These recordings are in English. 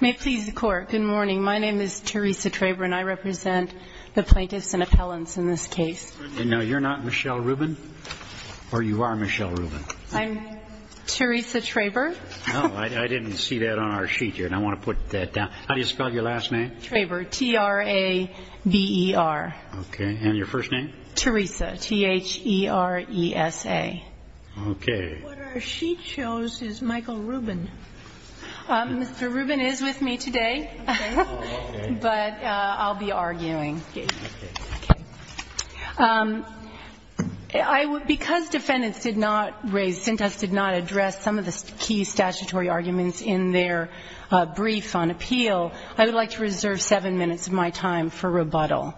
May it please the court, good morning. My name is Teresa Traber and I represent the plaintiffs and appellants in this case. No, you're not Michelle Rubin? Or you are Michelle Rubin? I'm Teresa Traber. Oh, I didn't see that on our sheet here and I want to put that down. How do you spell your last name? Traber, T-R-A-B-E-R. Okay, and your first name? Teresa, T-H-E-R-E-S-A. Okay. What our sheet shows is Michael Rubin. Mr. Rubin is with me today, but I'll be arguing. Okay. Because defendants did not raise, cintas did not address some of the key statutory arguments in their brief on appeal, I would like to reserve seven minutes of my time for rebuttal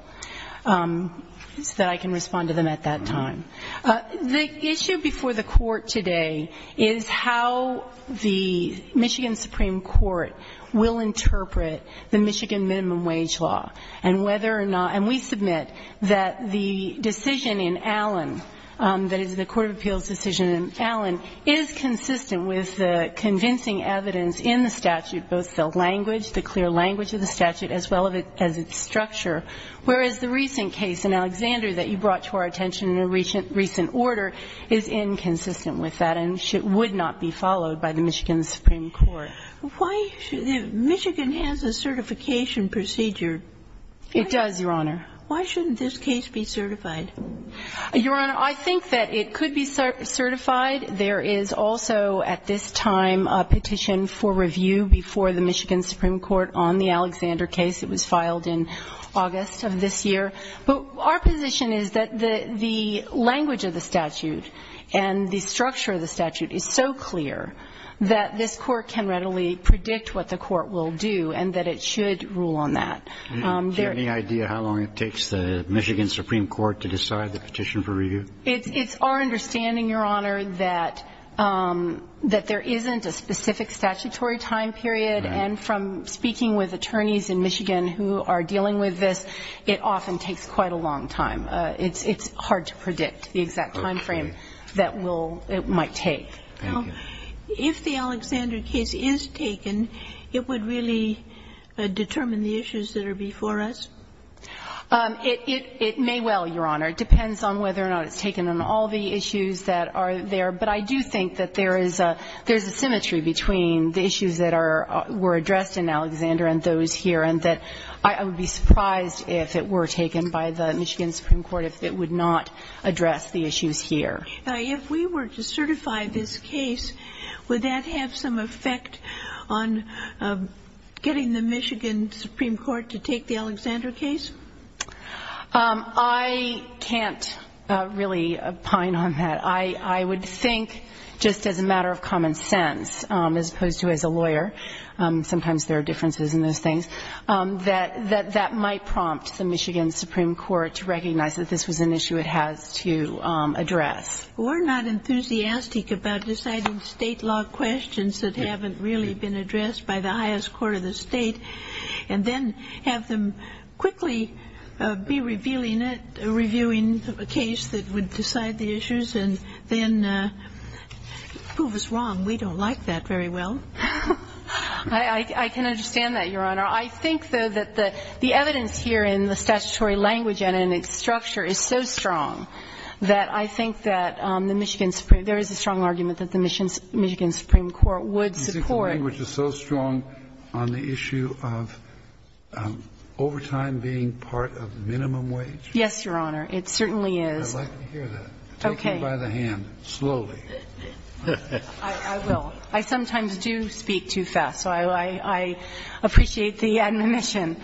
so that I can respond to them at that time. The issue before the court today is how the Michigan Supreme Court will interpret the Michigan Minimum Wage Law and whether or not, and we submit that the decision in Allen, that is the Court of Appeals decision in Allen, is consistent with the convincing evidence in the statute, both the language, the clear language of the statute as well as its structure. Whereas the recent case in Alexander that you brought to our attention in a recent order is inconsistent with that and would not be followed by the Michigan Supreme Court. Why, Michigan has a certification procedure. It does, Your Honor. Why shouldn't this case be certified? Your Honor, I think that it could be certified. There is also at this time a petition for review before the Michigan Supreme Court on the Alexander case. It was filed in August of this year. But our position is that the language of the statute and the structure of the statute is so clear that this court can readily predict what the court will do and that it should rule on that. Do you have any idea how long it takes the Michigan Supreme Court to decide the petition for review? It's our understanding, Your Honor, that there isn't a specific statutory time period and from speaking with attorneys in Michigan who are dealing with this, it often takes quite a long time. It's hard to predict the exact time frame that it might take. If the Alexander case is taken, it would really determine the issues that are before us? It may well, Your Honor. It depends on whether or not it's taken on all the issues that are there. But I do think that there is a symmetry between the issues that were addressed in Alexander and those here and that I would be surprised if it were taken by the Michigan Supreme Court if it would not address the issues here. If we were to certify this case, would that have some effect on getting the Michigan Supreme Court to take the Alexander case? I can't really pine on that. I would think just as a matter of common sense as opposed to as a lawyer, sometimes there are differences in those things, that that might prompt the Michigan Supreme Court to recognize that this was an issue it has to address. Or not enthusiastic about deciding state law questions that haven't really been addressed by the highest court of the state and then have them quickly be reviewing a case that would decide the issues and then prove us wrong. We don't like that very well. I can understand that, Your Honor. I think, though, that the evidence here in the statutory language and in its structure is so strong that I think that there is a strong argument that the Michigan Supreme Court would support. You think the language is so strong on the issue of overtime being part of the minimum wage? Yes, Your Honor. It certainly is. I'd like to hear that. Take me by the hand, slowly. I will. I sometimes do speak too fast, so I appreciate the admonition.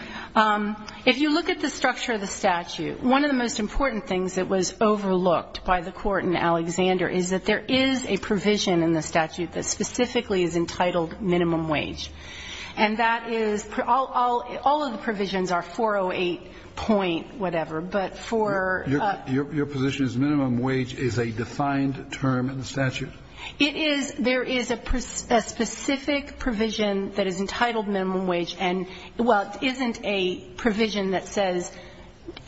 If you look at the structure of the statute, one of the most important things that was overlooked by the Court in Alexander is that there is a provision in the statute that specifically is entitled minimum wage. And that is, all of the provisions are 408 point whatever, but for Your position is minimum wage is a defined term in the statute? It is. There is a specific provision that is entitled minimum wage, and while it isn't a provision that says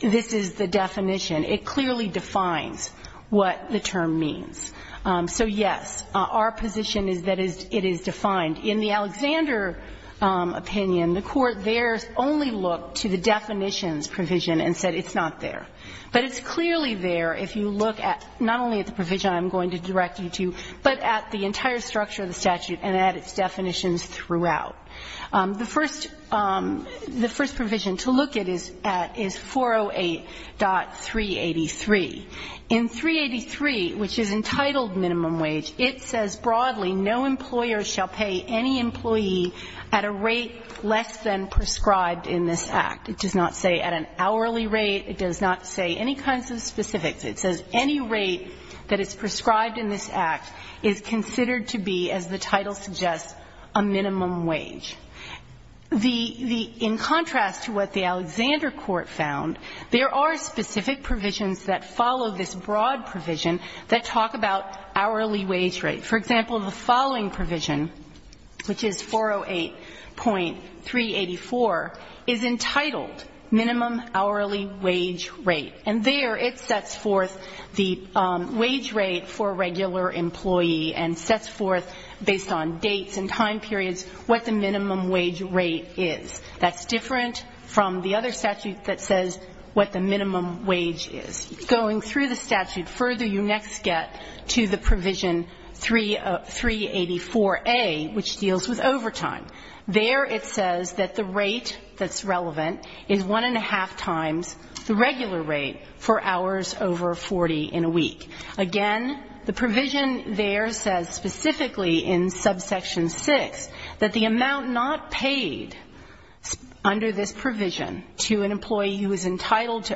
this is the definition, it clearly defines what the term means. So, yes, our position is that it is defined. In the Alexander opinion, the Court there only looked to the definitions provision and said it's not there. But it's clearly there if you look at not only at the provision I'm going to direct you to, but at the entire structure of the statute and at its definitions throughout. The first provision to look at is 408.383. In 383, which is entitled minimum wage, it says broadly, no employer shall pay any employee at a rate less than prescribed in this act. It does not say at an hourly rate. It does not say any kinds of specifics. It says any rate that is prescribed in this act is considered to be, as the title suggests, a minimum wage. In contrast to what the Alexander Court found, there are specific provisions that follow this broad provision that talk about hourly wage rate. For example, the following provision, which is 408.384, is entitled minimum hourly wage rate. And there it sets forth the wage rate for a regular employee and sets forth, based on dates and time periods, what the minimum wage rate is. That's different from the other statute that says what the minimum wage is. Going through the statute further, you next get to the provision 384A, which deals with overtime. There it says that the rate that's relevant is one and a half times the regular rate for hours over 40 in a week. Again, the provision there says specifically in subsection 6 to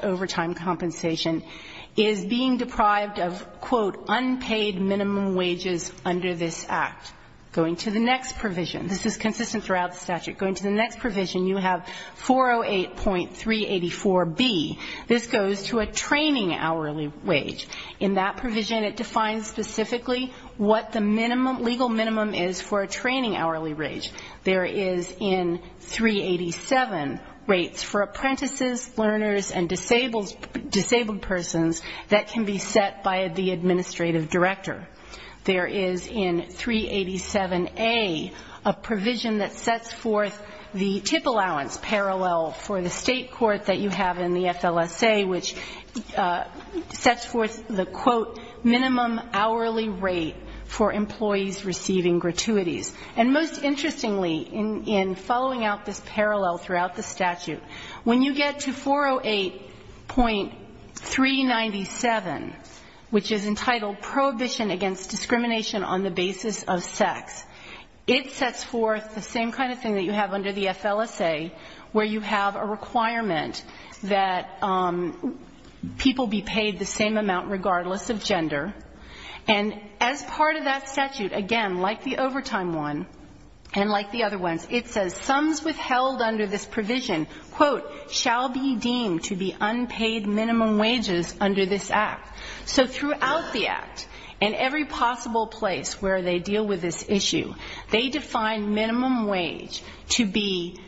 overtime compensation is being deprived of, quote, unpaid minimum wages under this act. Going to the next provision. This is consistent throughout the statute. Going to the next provision, you have 408.384B. This goes to a training hourly wage. In that provision, it defines specifically what the legal minimum is for a training hourly wage. There is in 387 rates for apprentices, learners, and disabled persons that can be set by the administrative director. There is in 387A a provision that sets forth the tip allowance parallel for the state court that you have in the FLSA, which sets forth the, quote, minimum hourly rate for employees receiving gratuities. And most interestingly, in following out this parallel throughout the statute, when you get to 408.397, which is entitled Prohibition Against Discrimination on the Basis of Sex, it sets forth the same kind of thing that you have under the FLSA, where you have a requirement that people be paid the same amount regardless of gender. And as part of that statute, again, like the overtime one and like the other ones, it says sums withheld under this provision, quote, shall be deemed to be unpaid minimum wages under this act. So throughout the act, in every possible place where they deal with this issue, they define minimum wage to be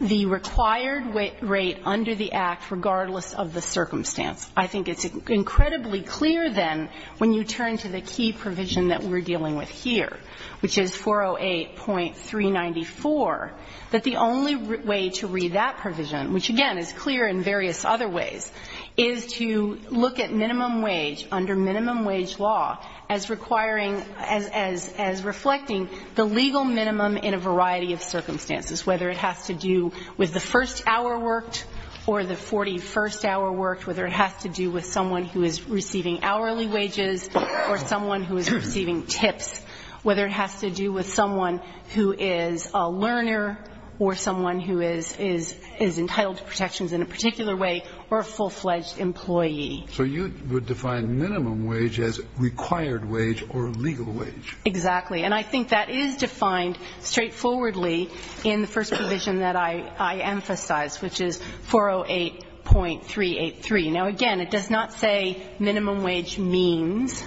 the required rate under the act regardless of the circumstance. I think it's incredibly clear then when you turn to the key provision that we're dealing with here, which is 408.394, that the only way to read that provision, which again is clear in various other ways, is to look at minimum wage under minimum wage law as requiring, as reflecting the legal minimum in a variety of circumstances, whether it has to do with the first hour worked or the 41st hour worked, whether it has to do with someone who is receiving hourly wages or someone who is receiving tips, whether it has to do with someone who is a learner or someone who is entitled to protections in a particular way or a full-fledged employee. So you would define minimum wage as required wage or legal wage. Exactly. And I think that is defined straightforwardly in the first provision that I emphasize, which is 408.383. Now, again, it does not say minimum wage means.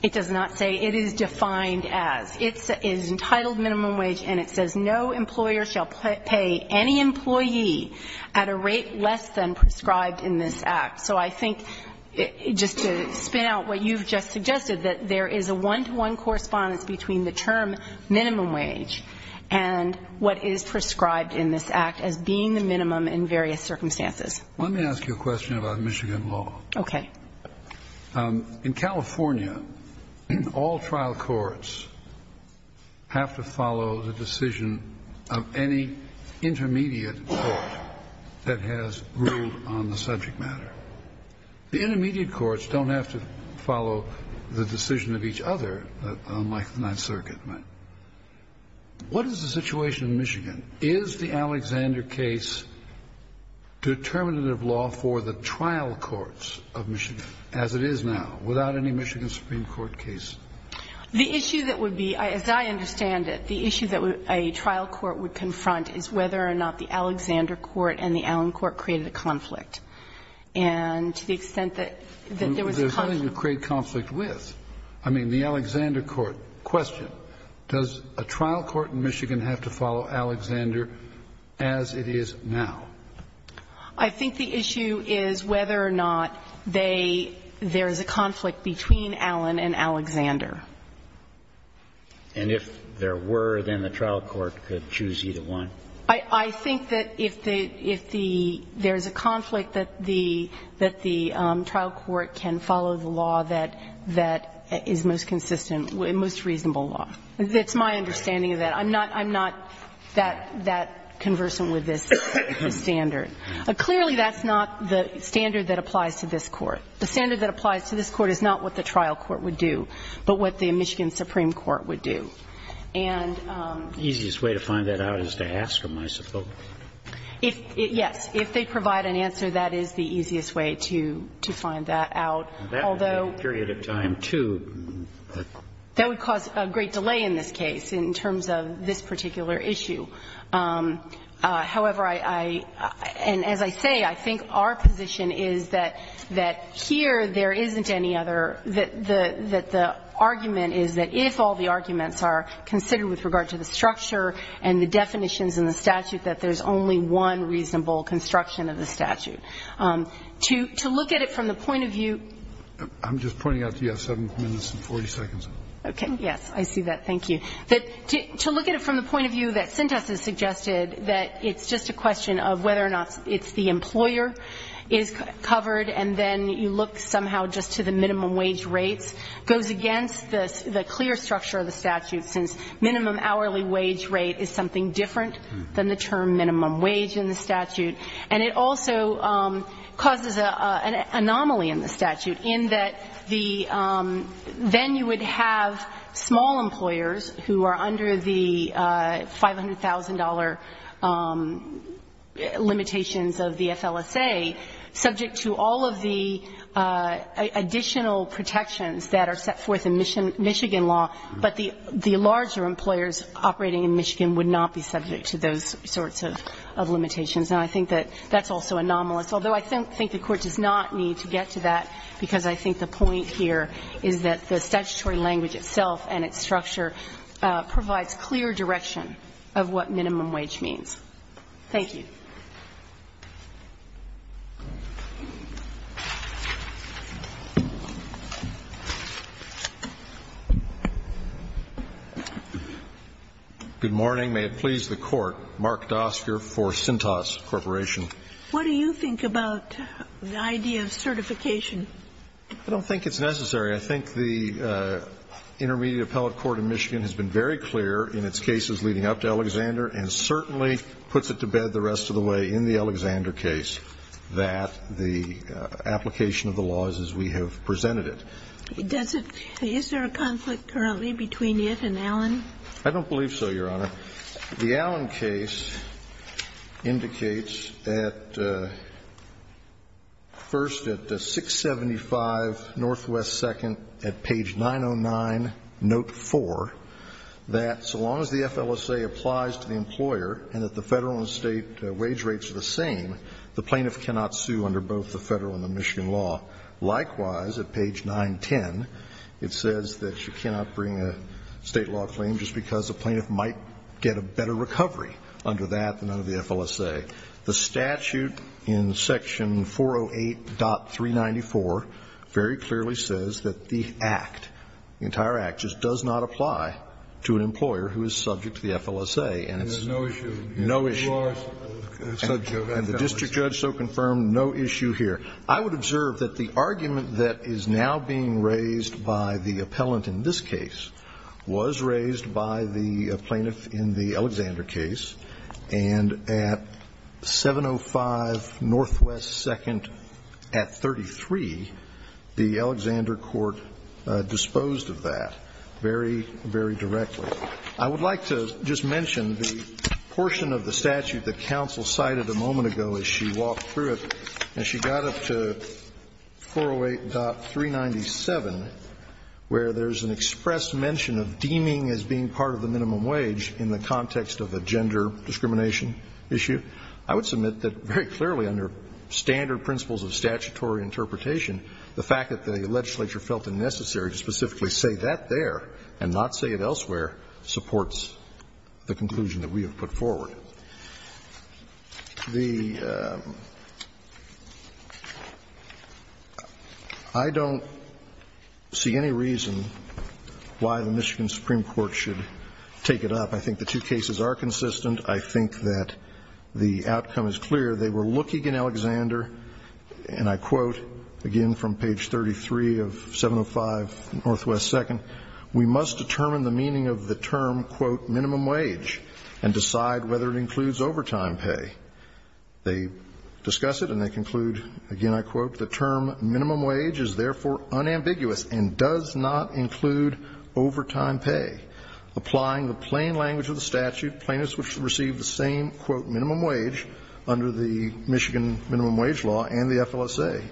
It does not say it is defined as. It is entitled minimum wage and it says no employer shall pay any employee at a rate less than prescribed in this act. So I think just to spin out what you've just suggested, that there is a one-to-one correspondence between the term minimum wage and what is prescribed in this act as being the minimum in various circumstances. Let me ask you a question about Michigan law. Okay. In California, all trial courts have to follow the decision of any intermediate court that has ruled on the subject matter. The intermediate courts don't have to follow the decision of each other, unlike the Ninth Circuit. What is the situation in Michigan? Is the Alexander case determinative law for the trial courts of Michigan, as it is now, without any Michigan Supreme Court case? The issue that would be, as I understand it, the issue that a trial court would confront is whether or not the Alexander court and the Allen court created a conflict. And to the extent that there was a conflict. There's nothing to create conflict with. I mean, the Alexander court. Question. Does a trial court in Michigan have to follow Alexander as it is now? I think the issue is whether or not there is a conflict between Allen and Alexander. And if there were, then the trial court could choose either one? I think that if there is a conflict, that the trial court can follow the law that is most consistent, most reasonable law. That's my understanding of that. I'm not that conversant with this standard. Clearly, that's not the standard that applies to this court. The standard that applies to this court is not what the trial court would do, but what the Michigan Supreme Court would do. The easiest way to find that out is to ask them, I suppose. Yes. If they provide an answer, that is the easiest way to find that out. That would take a period of time, too. That would cause a great delay in this case in terms of this particular issue. However, I – and as I say, I think our position is that here there isn't any other – that the argument is that if all the arguments are considered with regard to the structure and the definitions in the statute, that there's only one reasonable construction of the statute. To look at it from the point of view – I'm just pointing out to you, you have 7 minutes and 40 seconds. Okay, yes. I see that. Thank you. To look at it from the point of view that Sintas has suggested, that it's just a question of whether or not it's the employer is covered, and then you look somehow just to the minimum wage rates, goes against the clear structure of the statute, since minimum hourly wage rate is something different than the term minimum wage in the statute. And it also causes an anomaly in the statute in that the – then you would have small employers who are under the $500,000 limitations of the FLSA, subject to all of the additional protections that are set forth in Michigan law, but the larger employers operating in Michigan would not be subject to those sorts of limitations. And I think that that's also anomalous, although I think the Court does not need to get to that, because I think the point here is that the statutory language itself and its structure provides clear direction of what minimum wage means. Thank you. Good morning. May it please the Court. Mark Dosker for Sintas Corporation. What do you think about the idea of certification? I don't think it's necessary. I think the Intermediate Appellate Court in Michigan has been very clear in its cases leading up to Alexander and certainly puts it to bed the rest of the way in the Alexander case that the application of the law is as we have presented it. Does it – is there a conflict currently between it and Allen? I don't believe so, Your Honor. The Allen case indicates that, first, at 675 Northwest 2nd at page 909, note 4, that so long as the FLSA applies to the employer and that the Federal and State wage rates are the same, the plaintiff cannot sue under both the Federal and the Michigan law. Likewise, at page 910, it says that you cannot bring a State law claim just because a plaintiff might get a better recovery under that than under the FLSA. The statute in section 408.394 very clearly says that the Act, the entire Act, just does not apply to an employer who is subject to the FLSA. And it's no issue. No issue. And the district judge so confirmed, no issue here. I would observe that the argument that is now being raised by the appellant in this case was raised by the plaintiff in the Alexander case, and at 705 Northwest 2nd at 33, the Alexander court disposed of that very, very directly. I would like to just mention the portion of the statute that counsel cited a moment ago as she walked through it. As she got up to 408.397, where there's an express mention of deeming as being part of the minimum wage in the context of a gender discrimination issue, I would submit that very clearly under standard principles of statutory interpretation, the fact that the legislature felt it necessary to specifically say that there and not say it elsewhere supports the conclusion that we have put forward. The – I don't see any reason why the Michigan Supreme Court should take it up. I think the two cases are consistent. I think that the outcome is clear. They were looking in Alexander, and I quote, again, from page 33 of 705 Northwest 2nd, we must determine the meaning of the term, quote, minimum wage, and decide whether it includes overtime pay. They discuss it and they conclude, again, I quote, the term minimum wage is therefore unambiguous and does not include overtime pay. Applying the plain language of the statute, plaintiffs should receive the same, quote, minimum wage under the Michigan minimum wage law and the FLSA.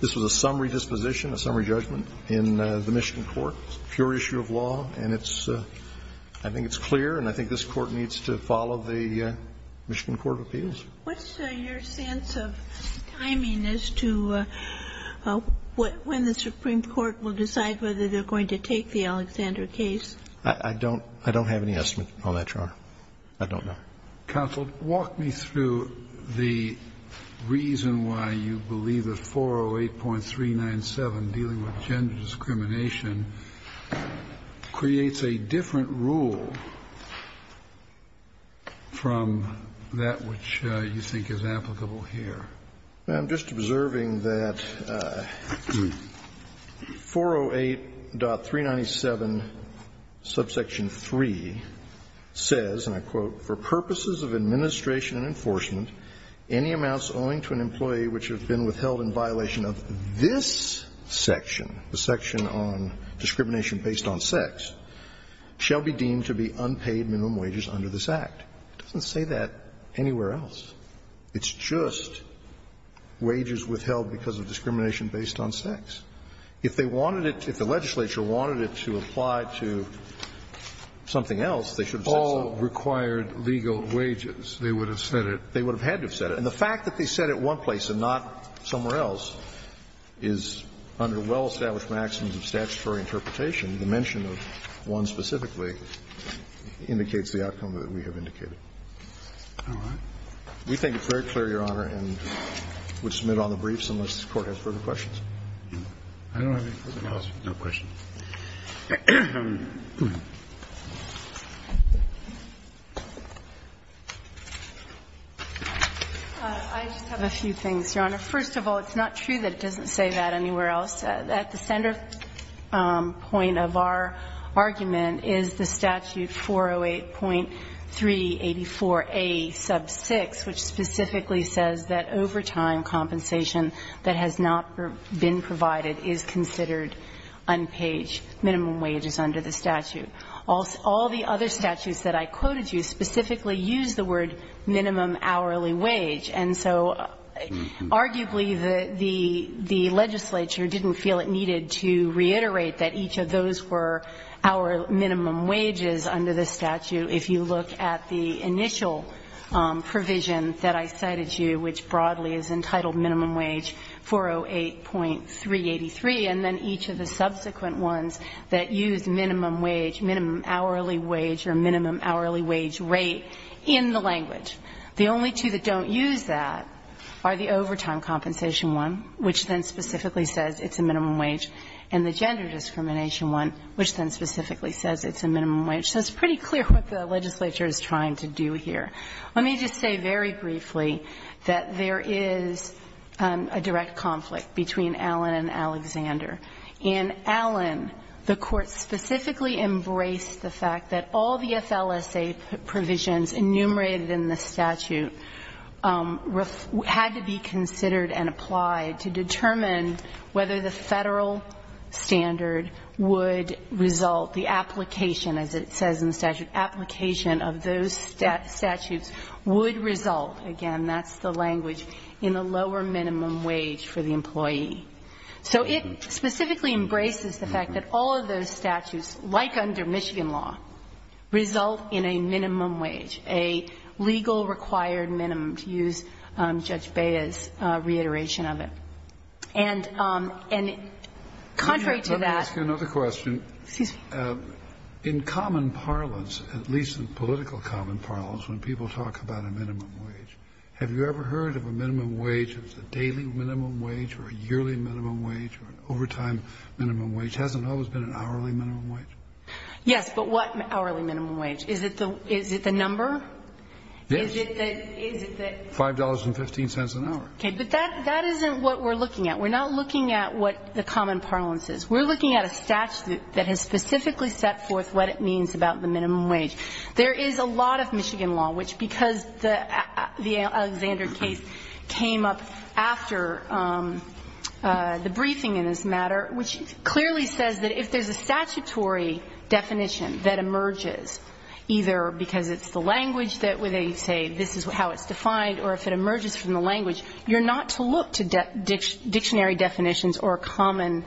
This was a summary disposition, a summary judgment in the Michigan court, pure issue of law, and it's – I think it's clear and I think this Court needs to follow the Michigan court of appeals. What's your sense of timing as to when the Supreme Court will decide whether they're going to take the Alexander case? I don't have any estimate on that, Your Honor. I don't know. Counsel, walk me through the reason why you believe that 408.397, dealing with gender discrimination, creates a different rule from that which you think is applicable here. Now, I'm just observing that 408.397, subsection 3, says, and I quote, for purposes of administration and enforcement, any amounts owing to an employee which have been withheld in violation of this section, the section on discrimination based on sex, shall be deemed to be unpaid minimum wages under this Act. It doesn't say that anywhere else. It's just wages withheld because of discrimination based on sex. If they wanted it to – if the legislature wanted it to apply to something else, they should have said so. All required legal wages, they would have said it. They would have had to have said it. And the fact that they said it one place and not somewhere else is under well-established maxims of statutory interpretation. The mention of one specifically indicates the outcome that we have indicated. All right. We think it's very clear, Your Honor, and would submit on the briefs unless the Court has further questions. I don't have anything else. No questions. I just have a few things, Your Honor. First of all, it's not true that it doesn't say that anywhere else. At the center point of our argument is the statute 408.384a sub 6, which specifically says that overtime compensation that has not been provided is considered unpaid minimum wages under the statute. All the other statutes that I quoted you specifically use the word minimum hourly wage. And so arguably the legislature didn't feel it needed to reiterate that each of those were our minimum wages under the statute. If you look at the initial provision that I cited to you, which broadly is entitled minimum wage 408.383, and then each of the subsequent ones that use minimum wage, minimum hourly wage or minimum hourly wage rate in the language. The only two that don't use that are the overtime compensation one, which then specifically says it's a minimum wage, and the gender discrimination one, which then specifically says it's a minimum wage. So it's pretty clear what the legislature is trying to do here. Let me just say very briefly that there is a direct conflict between Allen and Alexander. In Allen, the Court specifically embraced the fact that all the FLSA provisions enumerated in the statute had to be considered and applied to determine whether the Federal standard would result, the application, as it says in the statute, application of those statutes would result, again, that's the language, in a lower minimum wage for the employee. So it specifically embraces the fact that all of those statutes, like under Michigan law, result in a minimum wage, a legal required minimum, to use Judge Bea's reiteration of it. And contrary to that ---- Kennedy. Let me ask you another question. Excuse me. In common parlance, at least in political common parlance, when people talk about a minimum wage, have you ever heard of a minimum wage as a daily minimum wage or a yearly minimum wage or an overtime minimum wage? Hasn't always been an hourly minimum wage? Yes. But what hourly minimum wage? Is it the number? Yes. Is it the ---- $5.15 an hour. Okay. But that isn't what we're looking at. We're not looking at what the common parlance is. We're looking at a statute that has specifically set forth what it means about the minimum wage. There is a lot of Michigan law, which because the Alexander case came up after the Alexander case, there is a definition that emerges either because it's the language that they say this is how it's defined or if it emerges from the language. You're not to look to dictionary definitions or common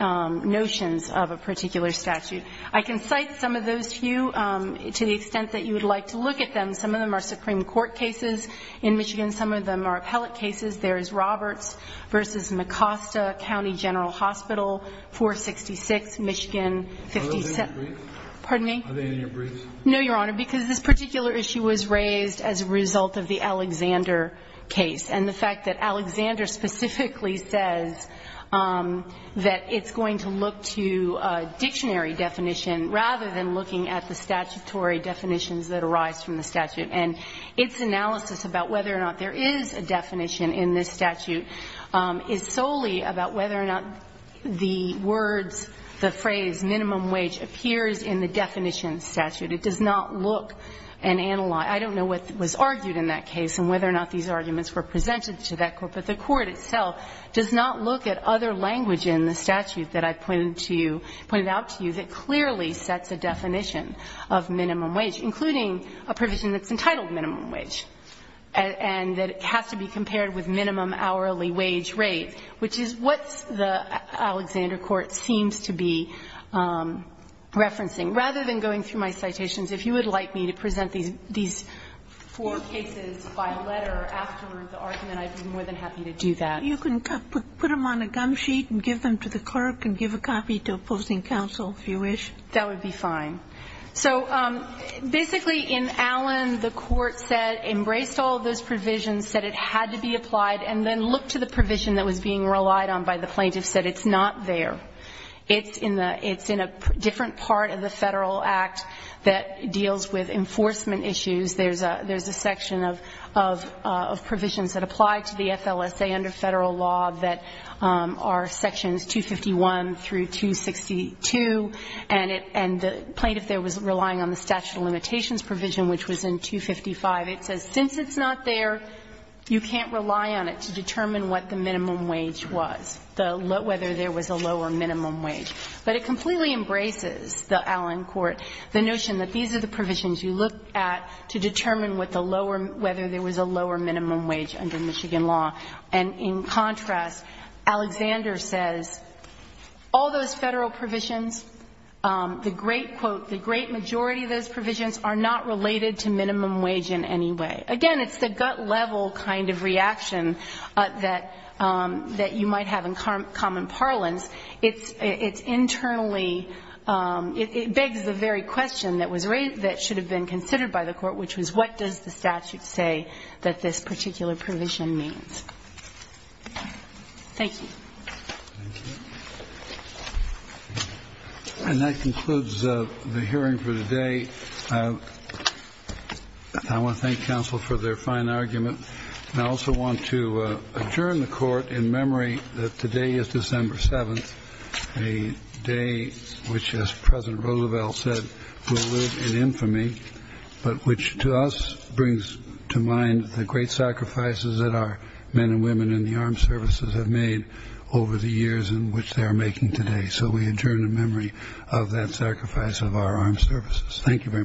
notions of a particular statute. I can cite some of those to you to the extent that you would like to look at them. Some of them are Supreme Court cases in Michigan. Some of them are appellate cases. There is Roberts v. Mecosta County General Hospital, 466 Michigan 57. Are they in your briefs? Pardon me? Are they in your briefs? No, Your Honor, because this particular issue was raised as a result of the Alexander case. And the fact that Alexander specifically says that it's going to look to a dictionary definition rather than looking at the statutory definitions that arise from the statute. And its analysis about whether or not there is a definition in this statute is solely about whether or not the words, the phrase minimum wage appears in the definition statute. It does not look and analyze. I don't know what was argued in that case and whether or not these arguments were presented to that court. But the court itself does not look at other language in the statute that I pointed to you, pointed out to you that clearly sets a definition of minimum wage, including a provision that's entitled minimum wage and that has to be compared with minimum hourly wage rate, which is what the Alexander court seems to be referencing. Rather than going through my citations, if you would like me to present these four cases by letter after the argument, I'd be more than happy to do that. You can put them on a gum sheet and give them to the clerk and give a copy to opposing counsel, if you wish. That would be fine. So basically in Allen, the court said, embraced all of those provisions, said it had to be applied, and then looked to the provision that was being relied on by the plaintiff, said it's not there. It's in a different part of the Federal Act that deals with enforcement issues. There's a section of provisions that apply to the FLSA under Federal law that are Sections 251 through 262. And the plaintiff there was relying on the statute of limitations provision, which was in 255. It says since it's not there, you can't rely on it to determine what the minimum wage was, whether there was a low or minimum wage. But it completely embraces the Allen court, the notion that these are the provisions you look at to determine whether there was a low or minimum wage under Michigan law. And in contrast, Alexander says all those Federal provisions, the great, quote, the great majority of those provisions are not related to minimum wage in any way. Again, it's the gut level kind of reaction that you might have in common parlance. It's internally, it begs the very question that was raised, that should have been considered by the court, which was what does the statute say that this particular provision means? Thank you. Thank you. And that concludes the hearing for today. I want to thank counsel for their fine argument. And I also want to adjourn the court in memory that today is December 7th, a day which, as President Roosevelt said, will live in infamy, but which to us brings to mind the great sacrifices that our men and women in the armed services have made over the years in which they are making today. So we adjourn in memory of that sacrifice of our armed services. Thank you very much.